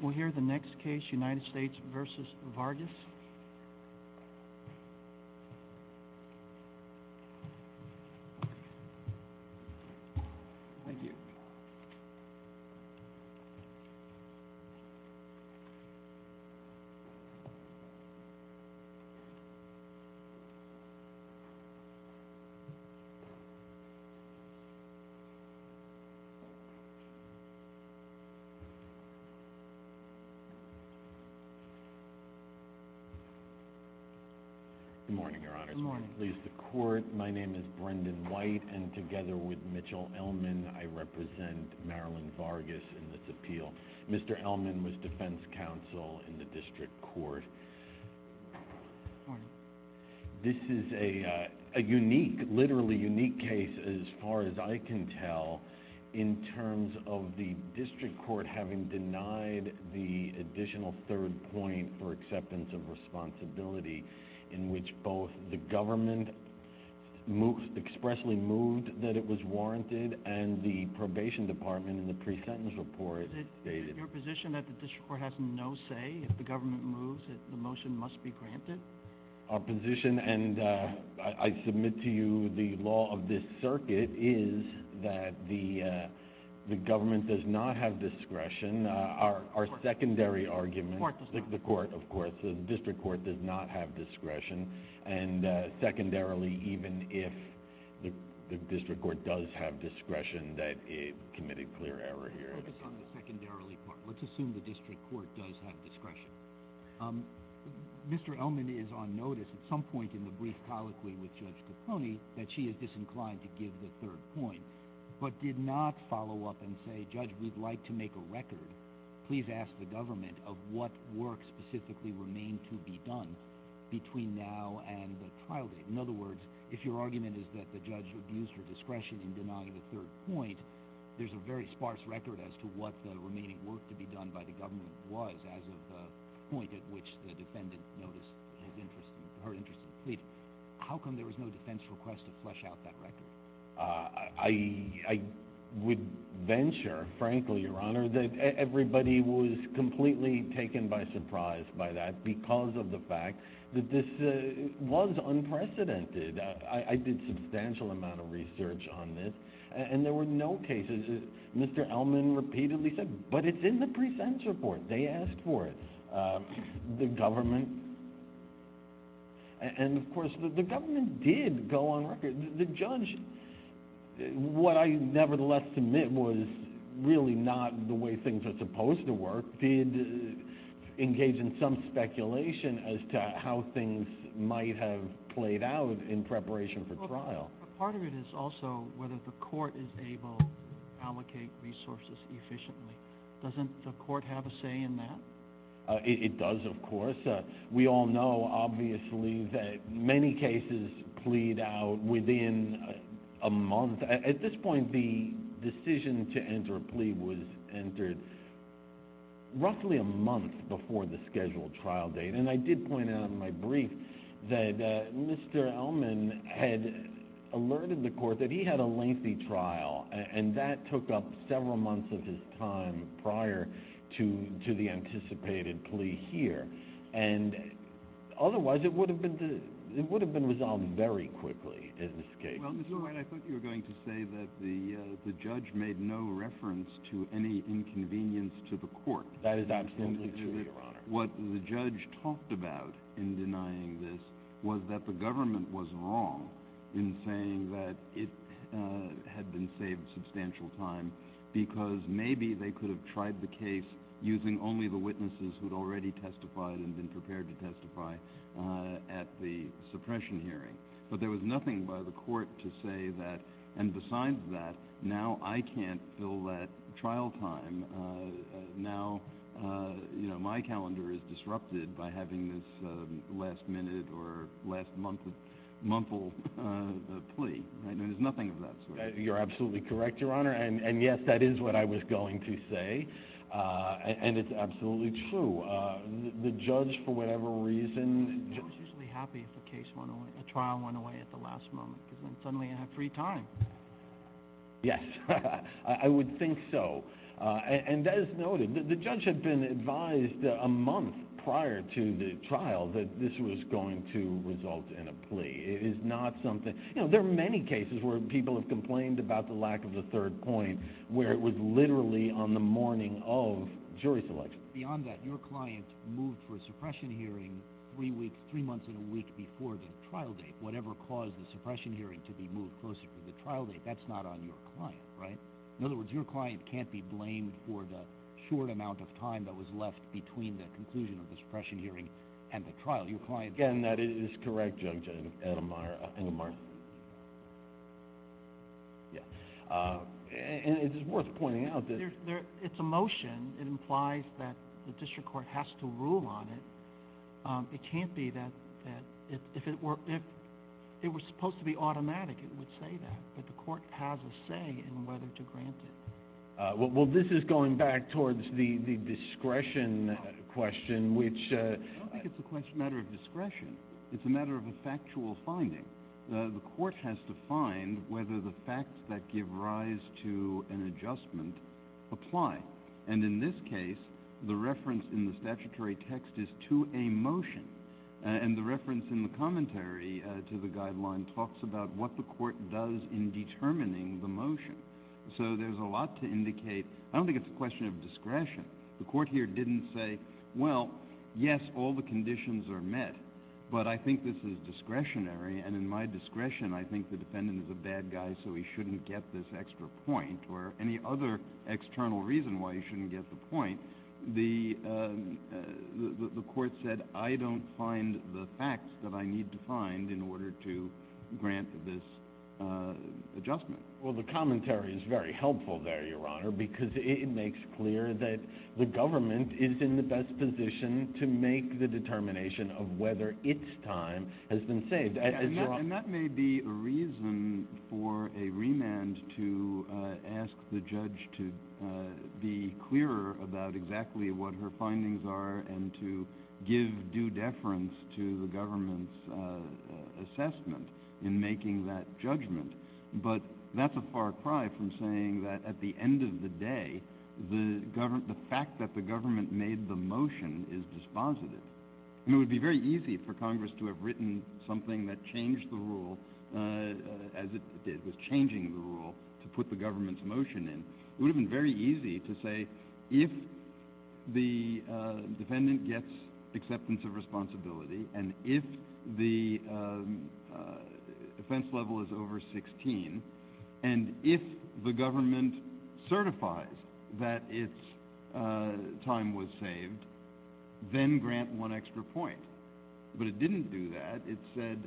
We'll hear the next case United States v. Vargas Good morning, Your Honors. My name is Brendan White, and together with Mitchell Ellman, I represent Marilyn Vargas in this appeal. Mr. Ellman was defense counsel in the district court. This is a unique, literally unique case, as far as I can tell, in terms of the district court having denied the additional third point for acceptance of responsibility, in which both the government expressly moved that it was warranted, and the probation department in the pre-sentence report stated. Is it your position that the district court has no say if the government moves that the motion must be granted? Our position, and I submit to you the law of this circuit, is that the government does not have discretion. Our secondary argument, the court of course, the district court does not have discretion, and secondarily, even if the district court does have discretion, that it committed clear error here. Let's focus on the secondarily part. Let's assume the district court does have discretion. Mr. Ellman is on notice at some point in the brief colloquy with Judge Caponi that she is disinclined to give the third point, but did not follow up and say, Judge, we'd like to make a record. Please ask the government of what work specifically remained to be done between now and the trial date. In other words, if your argument is that the judge abused her discretion in denying the third point, there's a very sparse record as to what the remaining work to be done by the government was, as of the point at which the defendant noticed her interest in pleading. How come there was no defense request to flesh out that record? I would venture, frankly, Your Honor, that everybody was completely taken by surprise by that because of the fact that this was unprecedented. I did substantial amount of research on this, and there were no cases that Mr. Ellman repeatedly said, but it's in the presents report, they asked for it. The government, and of course, the government did go on record. The judge, what I nevertheless submit was really not the way things are supposed to work, did engage in some speculation as to how things might have played out in preparation for trial. Part of it is also whether the court is able to allocate resources efficiently. Doesn't the court have a say in that? It does, of course. We all know, obviously, that many cases plead out within a month. At this point, the decision to enter a plea was entered roughly a month before the scheduled trial date. I did point out in my brief that Mr. Ellman had alerted the court that he had a lengthy trial, and that took up several months of his time prior to the anticipated plea here. And otherwise, it would have been resolved very quickly in this case. Well, Mr. White, I thought you were going to say that the judge made no reference to any inconvenience to the court. That is absolutely true, Your Honor. What the judge talked about in denying this was that the government was wrong in saying that it had been saved substantial time, because maybe they could have tried the case using only the witnesses who had already testified and been prepared to testify at the suppression hearing. But there was nothing by the court to say that, and besides that, now I can't fill that trial time, now, you know, my calendar is disrupted by having this last minute or last month, monthly plea, and there's nothing of that sort. You're absolutely correct, Your Honor, and yes, that is what I was going to say, and it's absolutely true. The judge, for whatever reason... The judge would be happy if the trial went away at the last moment, because then suddenly you have free time. Yes, I would think so. And as noted, the judge had been advised a month prior to the trial that this was going to result in a plea. It is not something... You know, there are many cases where people have complained about the lack of a third point where it was literally on the morning of jury selection. Beyond that, your client moved for a suppression hearing three months and a week before the trial date. Whatever caused the suppression hearing to be moved closer to the trial date, that's not on your client, right? In other words, your client can't be blamed for the short amount of time that was left between the conclusion of the suppression hearing and the trial. Your client... Again, that is correct, Judge Engelmeyer. Yeah. And it is worth pointing out that... It's a motion. It implies that the district court has to rule on it. It can't be that if it were supposed to be automatic, it would say that, but the court has a say in whether to grant it. Well, this is going back towards the discretion question, which... I don't think it's a matter of discretion. It's a matter of a factual finding. The court has to find whether the facts that give rise to an adjustment apply. And in this case, the reference in the statutory text is to a motion. And the reference in the commentary to the guideline talks about what the court does in determining the motion. So there's a lot to indicate. I don't think it's a question of discretion. The court here didn't say, well, yes, all the conditions are met, but I think this is discretionary. And in my discretion, I think the defendant is a bad guy, so he shouldn't get this extra point or any other external reason why he shouldn't get the point. The court said, I don't find the facts that I need to find in order to grant this adjustment. Well, the commentary is very helpful there, Your Honor, because it makes clear that the government is in the best position to make the determination of whether its time has been saved. And that may be a reason for a remand to ask the judge to be clearer about exactly what her findings are and to give due deference to the government's assessment in making that judgment. But that's a far cry from saying that at the end of the day, the fact that the government made the motion is dispositive. And it would be very easy for Congress to have written something that changed the rule as it did with changing the rule to put the government's motion in. It would have been very easy to say, if the defendant gets acceptance of responsibility and if the offense level is over 16, and if the government certifies that its time was saved, then grant one extra point. But it didn't do that. It said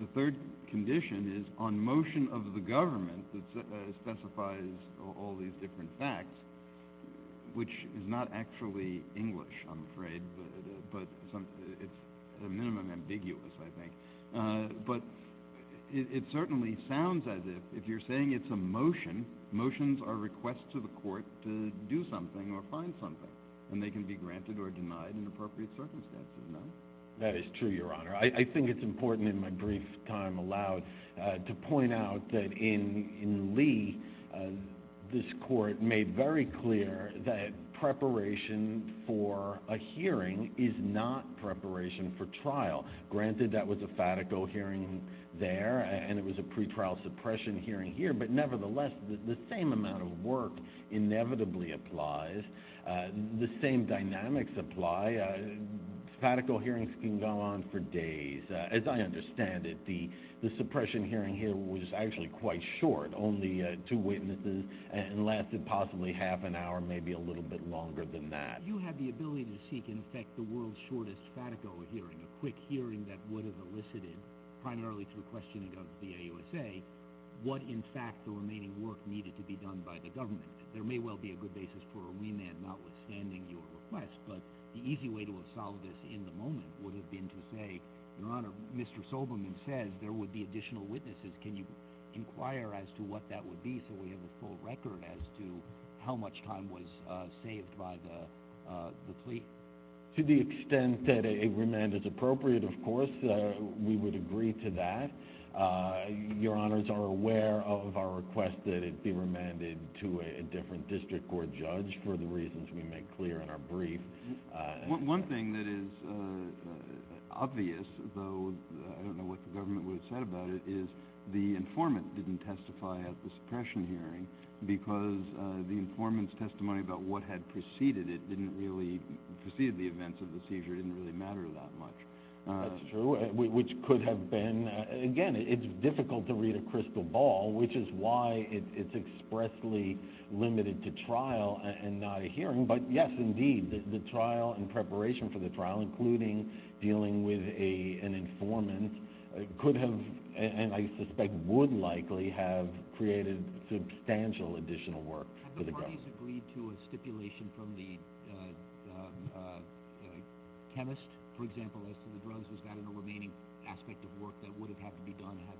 the third condition is on motion of the government that specifies all these different facts, which is not actually English, I'm afraid, but it's a minimum ambiguous, I think. But it certainly sounds as if, if you're saying it's a motion, motions are requests to the court to do something or find something. And they can be granted or denied in appropriate circumstances, no? That is true, Your Honor. I think it's important in my brief time allowed to point out that in Lee, this court made very clear that preparation for a hearing is not preparation for trial. Granted, that was a fatico hearing there and it was a pretrial suppression hearing here, but nevertheless, the same amount of work inevitably applies. The same dynamics apply. Fatico hearings can go on for days. As I understand it, the suppression hearing here was actually quite short, only two witnesses, and lasted possibly half an hour, maybe a little bit longer than that. You had the ability to seek, in effect, the world's shortest fatico hearing, a quick hearing that would have elicited, primarily through questioning of the AUSA, what, in fact, the remaining work needed to be done by the government. There may well be a good basis for a remand, notwithstanding your request, but the easy way to solve this in the moment would have been to say, Your Honor, Mr. Soberman says there would be additional witnesses. Can you inquire as to what that would be so we have a full record as to how much time was saved by the plea? To the extent that a remand is appropriate, of course, we would agree to that. Your Honors are aware of our request that it be remanded to a different district court judge for the reasons we make clear in our brief. One thing that is obvious, though I don't know what the government would have said about it, is the informant didn't testify at the suppression hearing because the informant's testimony about what had preceded it didn't really precede the events of the seizure. It didn't really matter that much. That's true, which could have been. Again, it's difficult to read a crystal ball, which is why it's expressly limited to trial and not a hearing. But yes, indeed, the trial and preparation for the trial, including dealing with an informant, could have, and I suspect would likely, have created substantial additional work for the government. Have the parties agreed to a stipulation from the chemist, for example, as to the drugs was that a remaining aspect of work that would have had to be done had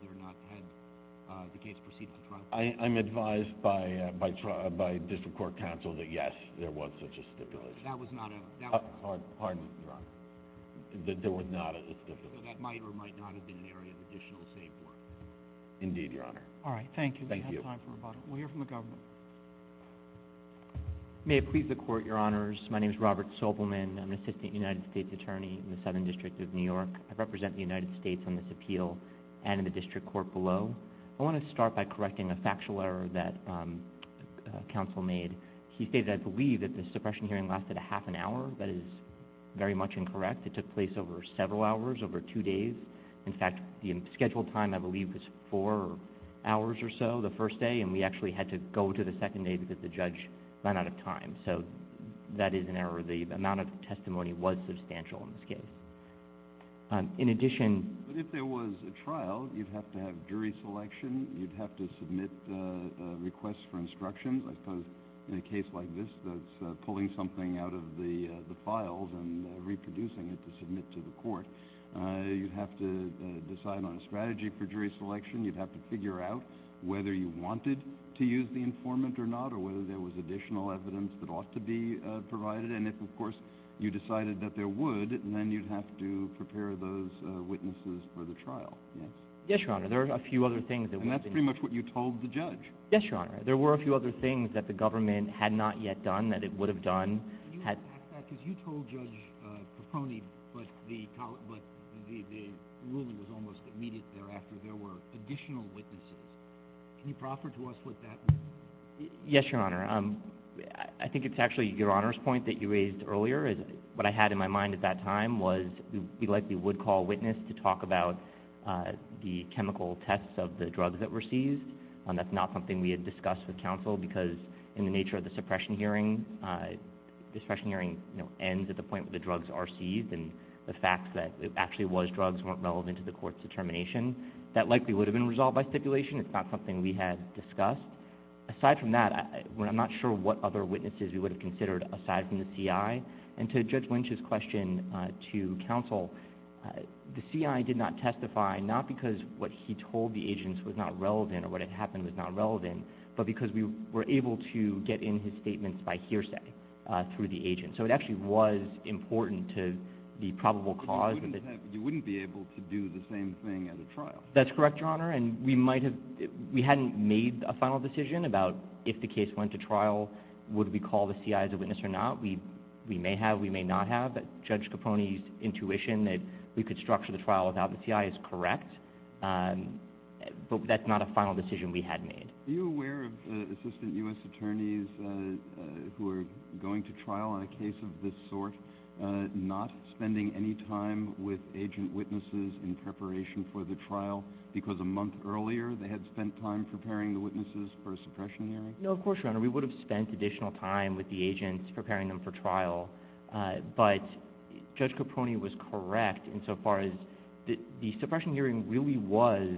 the case proceeded to trial? I'm advised by district court counsel that, yes, there was such a stipulation. That was not a... Pardon me, Your Honor. That there was not a stipulation. So that might or might not have been an area of additional safe work. Indeed, Your Honor. All right. Thank you. We have time for rebuttal. We'll hear from the government. May it please the Court, Your Honors. I'm here to testify on behalf of the Supreme Court. I'm here to testify on behalf of the Supreme Court. I represent the United States on this appeal and in the district court below. I want to start by correcting a factual error that counsel made. He stated, I believe, that the suppression hearing lasted a half an hour. That is very much incorrect. It took place over several hours, over two days. In fact, the scheduled time, I believe, was four hours or so the first day, and we actually had to go to the second day because the judge ran out of time. So that is an error. However, the amount of testimony was substantial in this case. In addition— But if there was a trial, you'd have to have jury selection. You'd have to submit requests for instructions. I suppose in a case like this that's pulling something out of the files and reproducing it to submit to the court, you'd have to decide on a strategy for jury selection. You'd have to figure out whether you wanted to use the informant or not or whether there was additional evidence that ought to be provided. And if, of course, you decided that there would, then you'd have to prepare those witnesses for the trial. Yes. Yes, Your Honor. There are a few other things that— And that's pretty much what you told the judge. Yes, Your Honor. There were a few other things that the government had not yet done that it would have done. Can you unpack that? Because you told Judge Papone, but the ruling was almost immediate thereafter. There were additional witnesses. Can you proffer to us what that meant? Yes, Your Honor. I think it's actually Your Honor's point that you raised earlier. What I had in my mind at that time was we likely would call a witness to talk about the chemical tests of the drugs that were seized. That's not something we had discussed with counsel because in the nature of the suppression hearing, the suppression hearing ends at the point where the drugs are seized and the facts that it actually was drugs weren't relevant to the court's determination. That likely would have been resolved by stipulation. It's not something we had discussed. Aside from that, I'm not sure what other witnesses we would have considered aside from the C.I. And to Judge Lynch's question to counsel, the C.I. did not testify not because what he told the agents was not relevant or what had happened was not relevant, but because we were able to get in his statements by hearsay through the agents. So it actually was important to the probable cause. You wouldn't be able to do the same thing at a trial. That's correct, Your Honor. And we hadn't made a final decision about if the case went to trial, would we call the C.I. as a witness or not. We may have, we may not have. But Judge Caponi's intuition that we could structure the trial without the C.I. is correct, but that's not a final decision we had made. Are you aware of assistant U.S. attorneys who are going to trial on a case of this sort not spending any time with agent a month earlier? They had spent time preparing the witnesses for a suppression hearing? No, of course, Your Honor. We would have spent additional time with the agents preparing them for trial, but Judge Caponi was correct insofar as the suppression hearing really was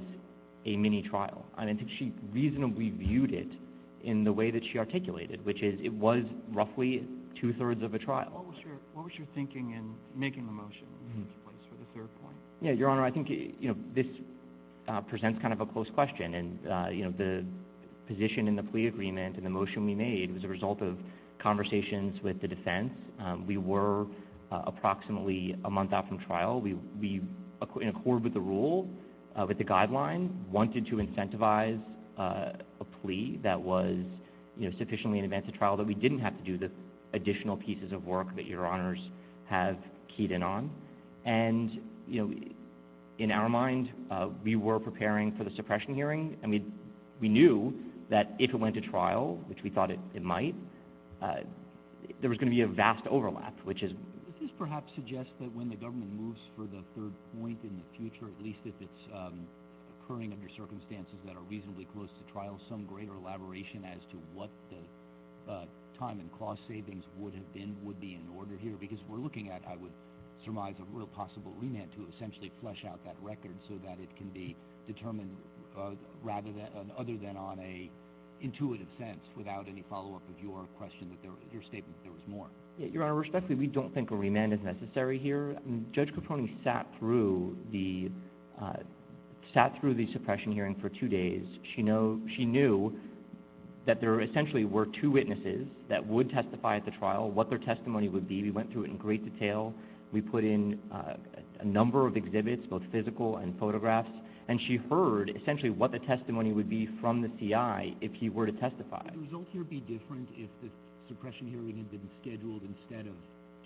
a mini-trial. I mean, she reasonably viewed it in the way that she articulated, which is it was roughly two-thirds of a trial. What was your thinking in making the motion for the third point? Yeah, Your Honor, I think this presents kind of a close question, and the position in the plea agreement and the motion we made was a result of conversations with the defense. We were approximately a month out from trial. We, in accord with the rule, with the guidelines, wanted to incentivize a plea that was sufficiently in advance of trial that we didn't have to do the additional pieces of work that Your Honors have keyed in on. And, you know, in our mind, we were preparing for the suppression hearing, and we knew that if it went to trial, which we thought it might, there was going to be a vast overlap, which is... Does this perhaps suggest that when the government moves for the third point in the future, at least if it's occurring under circumstances that are reasonably close to trial, some greater elaboration as to what the time and cost savings would have been, would be in order here? Because we're looking at, I would surmise, a real possible remand to essentially flush out that record so that it can be determined rather than... Other than on a intuitive sense, without any follow-up of your question, your statement that there was more. Yeah, Your Honor, respectfully, we don't think a remand is necessary here. Judge Capone sat through the suppression hearing for two days. She knew that there essentially were two witnesses that would testify at the trial, what their testimony was. She sat through it in great detail. We put in a number of exhibits, both physical and photographs, and she heard essentially what the testimony would be from the CI if he were to testify. Would the result here be different if the suppression hearing had been scheduled instead of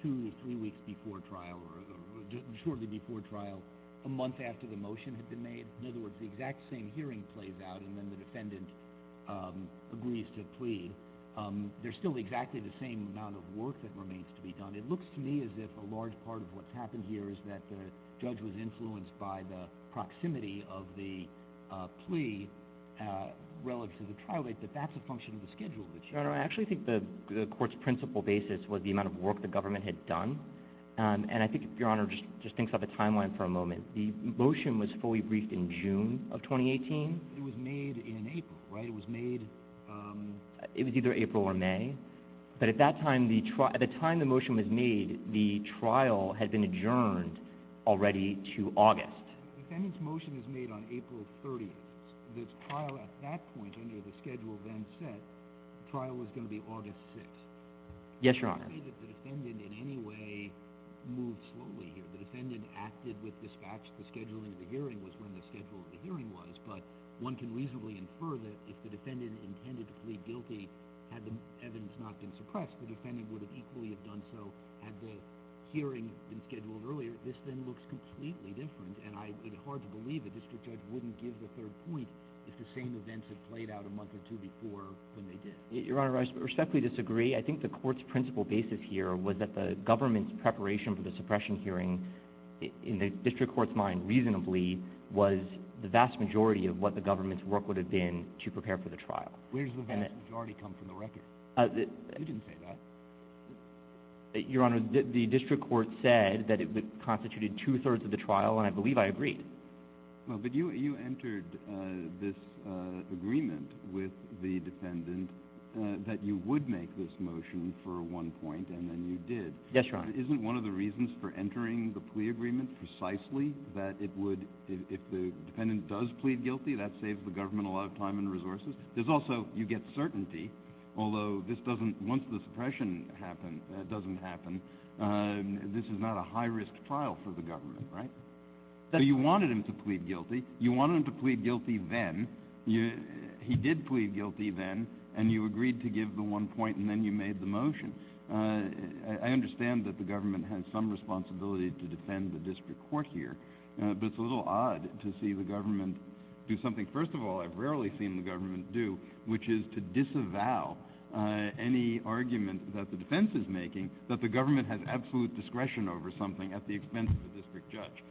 two or three weeks before trial, or shortly before trial, a month after the motion had been made? In other words, the exact same hearing plays out, and then the defendant agrees to plead. There's still exactly the same amount of work that remains to be done. It looks to me as if a large part of what's happened here is that the judge was influenced by the proximity of the plea relative to the trial date, that that's a function of the schedule. Your Honor, I actually think the court's principal basis was the amount of work the government had done. And I think Your Honor just thinks of a timeline for a moment. The motion was fully briefed in June of 2018. It was made in April, right? It was made... It was either April or May. But at that time, at the time the motion was made, the trial had been adjourned already to August. The defendant's motion was made on April 30th. The trial at that point, under the schedule then set, the trial was going to be August 6th. Yes, Your Honor. I don't see that the defendant in any way moved slowly here. The defendant acted with dispatch. The scheduling of the hearing was when the schedule of the hearing was, but one can reasonably infer that if the defendant intended to plead guilty, had the evidence not been suppressed, the defendant would have equally have done so had the hearing been scheduled earlier. This then looks completely different. And it's hard to believe the district judge wouldn't give the third point if the same events had played out a month or two before when they did. Your Honor, I respectfully disagree. I think the court's principal basis here was that the government's preparation for the suppression hearing, in the district court's mind reasonably, was the vast majority of what the government's work would have been to prepare for the trial. Where does the vast majority come from? The record? You didn't say that. Your Honor, the district court said that it constituted two-thirds of the trial, and I believe I agreed. But you entered this agreement with the defendant that you would make this motion for one point and then you did. Yes, Your Honor. Isn't one of the reasons for entering the plea agreement precisely that it would, if the defendant does plead guilty, that saves the government a lot of time and resources? There's also, you get certainty, although this doesn't, once the suppression doesn't happen, this is not a high-risk trial for the government, right? So you wanted him to plead guilty. You wanted him to plead guilty then. He did plead guilty then, and you agreed to give the one point and then you made the motion. I understand that the government has some responsibility to defend the district court here, but it's a little odd to see the government do something, first of all, I've rarely seen the government do, which is to disavow any argument that the defense is making that the government has absolute discretion over something at the expense of the district judge.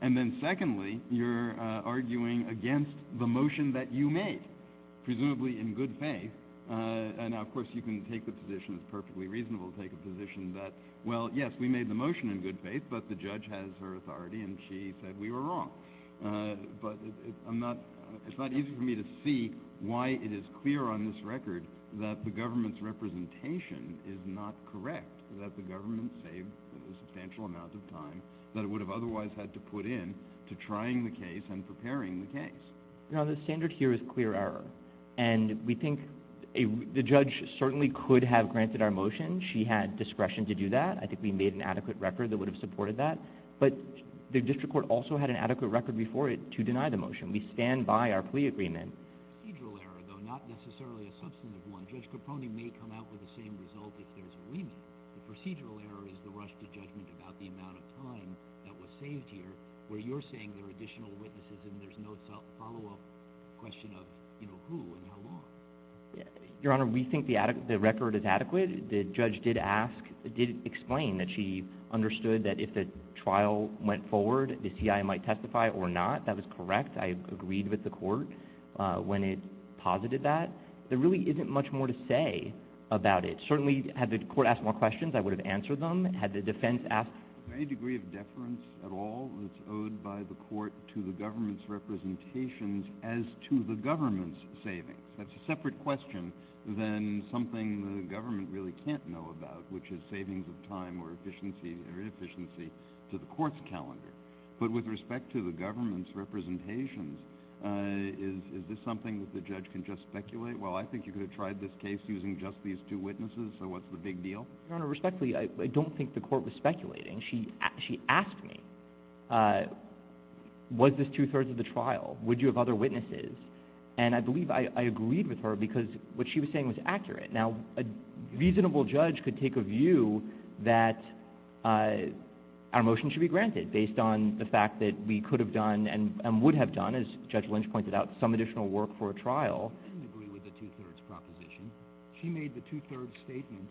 And then secondly, you're arguing against the motion that you made, presumably in good faith. Now, of course, you can take the position, it's perfectly reasonable to take a position that, well, yes, we made the motion in good faith, but the judge has her authority and she said we were wrong. But it's not easy for me to see why it is clear on this record that the government's representation is not correct, that the government saved a substantial amount of time that it would have otherwise had to put in to trying the case and preparing the case. No, the standard here is clear error. And we think the judge certainly could have granted our motion. She had discretion to do that. I think we made an adequate record that would have supported that. But the district court also had an adequate record before it to deny the motion. We stand by our plea agreement. Procedural error, though, not necessarily a substantive one. Judge Capone may come out with the same result if there's a bleeming. The procedural error is the rush to judgment about the amount of time that was saved here where you're saying there are additional witnesses and there's no follow-up question of, you know, who and how long. Your Honor, we think the record is adequate. The judge did ask, did explain that she understood that if the trial went forward, the C.I. might testify or not. That was correct. I agreed with the court when it posited that. There really isn't much more to say about it. Certainly, had the court asked more questions, I would have answered them. Had the defense asked – Is there any degree of deference at all that's owed by the court to the government's representations as to the government's savings? That's a separate question than something the government really can't know about, which is savings of time or efficiency or inefficiency to the court's calendar. But with respect to the government's representations, is this something that the judge can just speculate? Well, I think you could have tried this case using just these two witnesses, so what's the big deal? Your Honor, respectfully, I don't think the court was speculating. She asked me, was this two-thirds of the trial? Would you have other witnesses? And I believe I agreed with her because what she was saying was accurate. Now, a reasonable judge could take a view that our motion should be granted, based on the fact that we could have done and would have done, as Judge Lynch pointed out, some additional work for a trial. I don't agree with the two-thirds proposition. She made the two-thirds statement,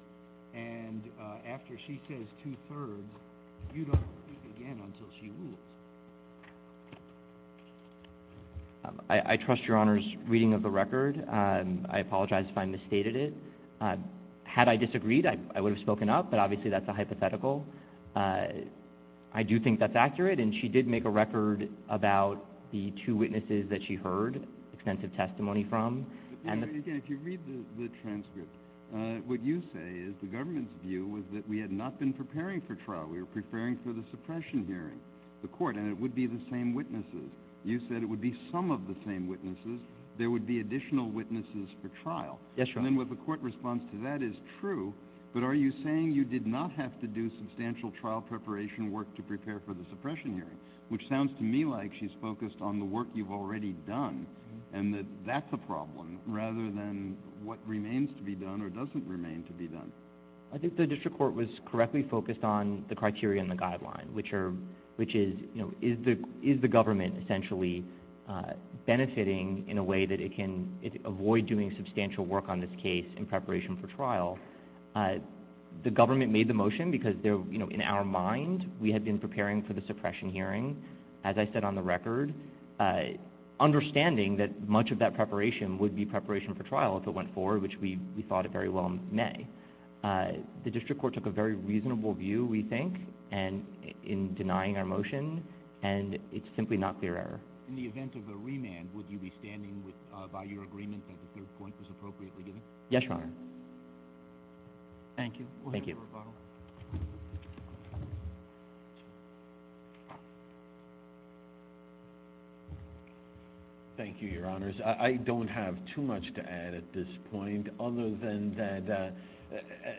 and after she says two-thirds, you don't speak again until she rules. I trust Your Honor's reading of the record. I apologize if I misstated it. Had I disagreed, I would have spoken up, but obviously that's a hypothetical. I do think that's accurate, and she did make a record about the two witnesses that she heard extensive testimony from. But, again, if you read the transcript, what you say is the government's view was that we had not been preparing for trial. We were preparing for the suppression hearing. The court, and it would be the same witnesses. You said it would be some of the same witnesses. There would be additional witnesses for trial. Yes, Your Honor. And then what the court responds to that is true, but are you saying you did not have to do substantial trial preparation work to prepare for the suppression hearing? Which sounds to me like she's focused on the work you've already done and that that's a problem, rather than what remains to be done or doesn't remain to be done. I think the district court was correctly focused on the criteria and the guideline, which is, is the government essentially benefiting in a way that it can avoid doing substantial work on this case in preparation for trial? The government made the motion because in our mind we had been preparing for the suppression hearing, as I said on the record, understanding that much of that preparation would be preparation for trial if it went forward, which we thought it very well may. The district court took a very reasonable view, we think, in denying our motion, and it's simply not clear error. In the event of a remand, would you be standing by your agreement that the third point was appropriately given? Yes, Your Honor. Thank you. Thank you. Thank you, Your Honors. I don't have too much to add at this point, other than that,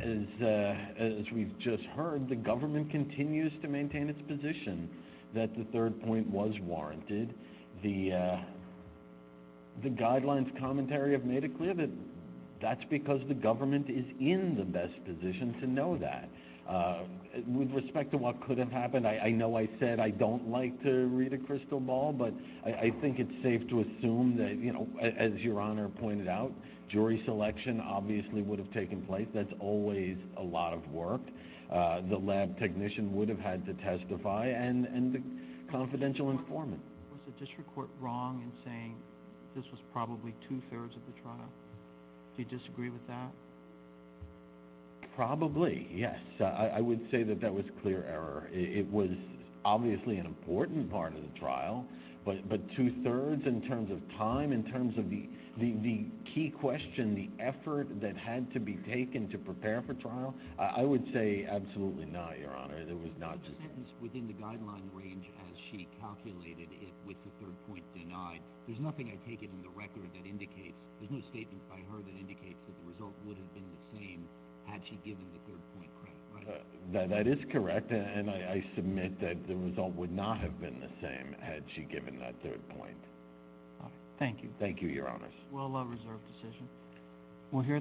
as we've just heard, the government continues to maintain its position that the third point was warranted. The guidelines commentary have made it clear that that's because the government is in the best position to know that. With respect to what could have happened, I know I said I don't like to read a crystal ball, but I think it's safe to assume that, as Your Honor pointed out, jury selection obviously would have taken place. That's always a lot of work. The lab technician would have had to testify and the confidential informant. Was the district court wrong in saying this was probably two-thirds of the trial? Do you disagree with that? Probably, yes. I would say that that was clear error. It was obviously an important part of the trial, but two-thirds in terms of time, in terms of the key question, the effort that had to be taken to prepare for trial, I would say absolutely not, Your Honor. There was not... The sentence within the guideline range as she calculated it with the third point denied, there's nothing I take in the record that indicates, there's no statement by her that indicates that the result would have been the same had she given the third point credit, right? That is correct, and I submit that the result would not have been the same had she given that third point. Thank you. Thank you, Your Honors.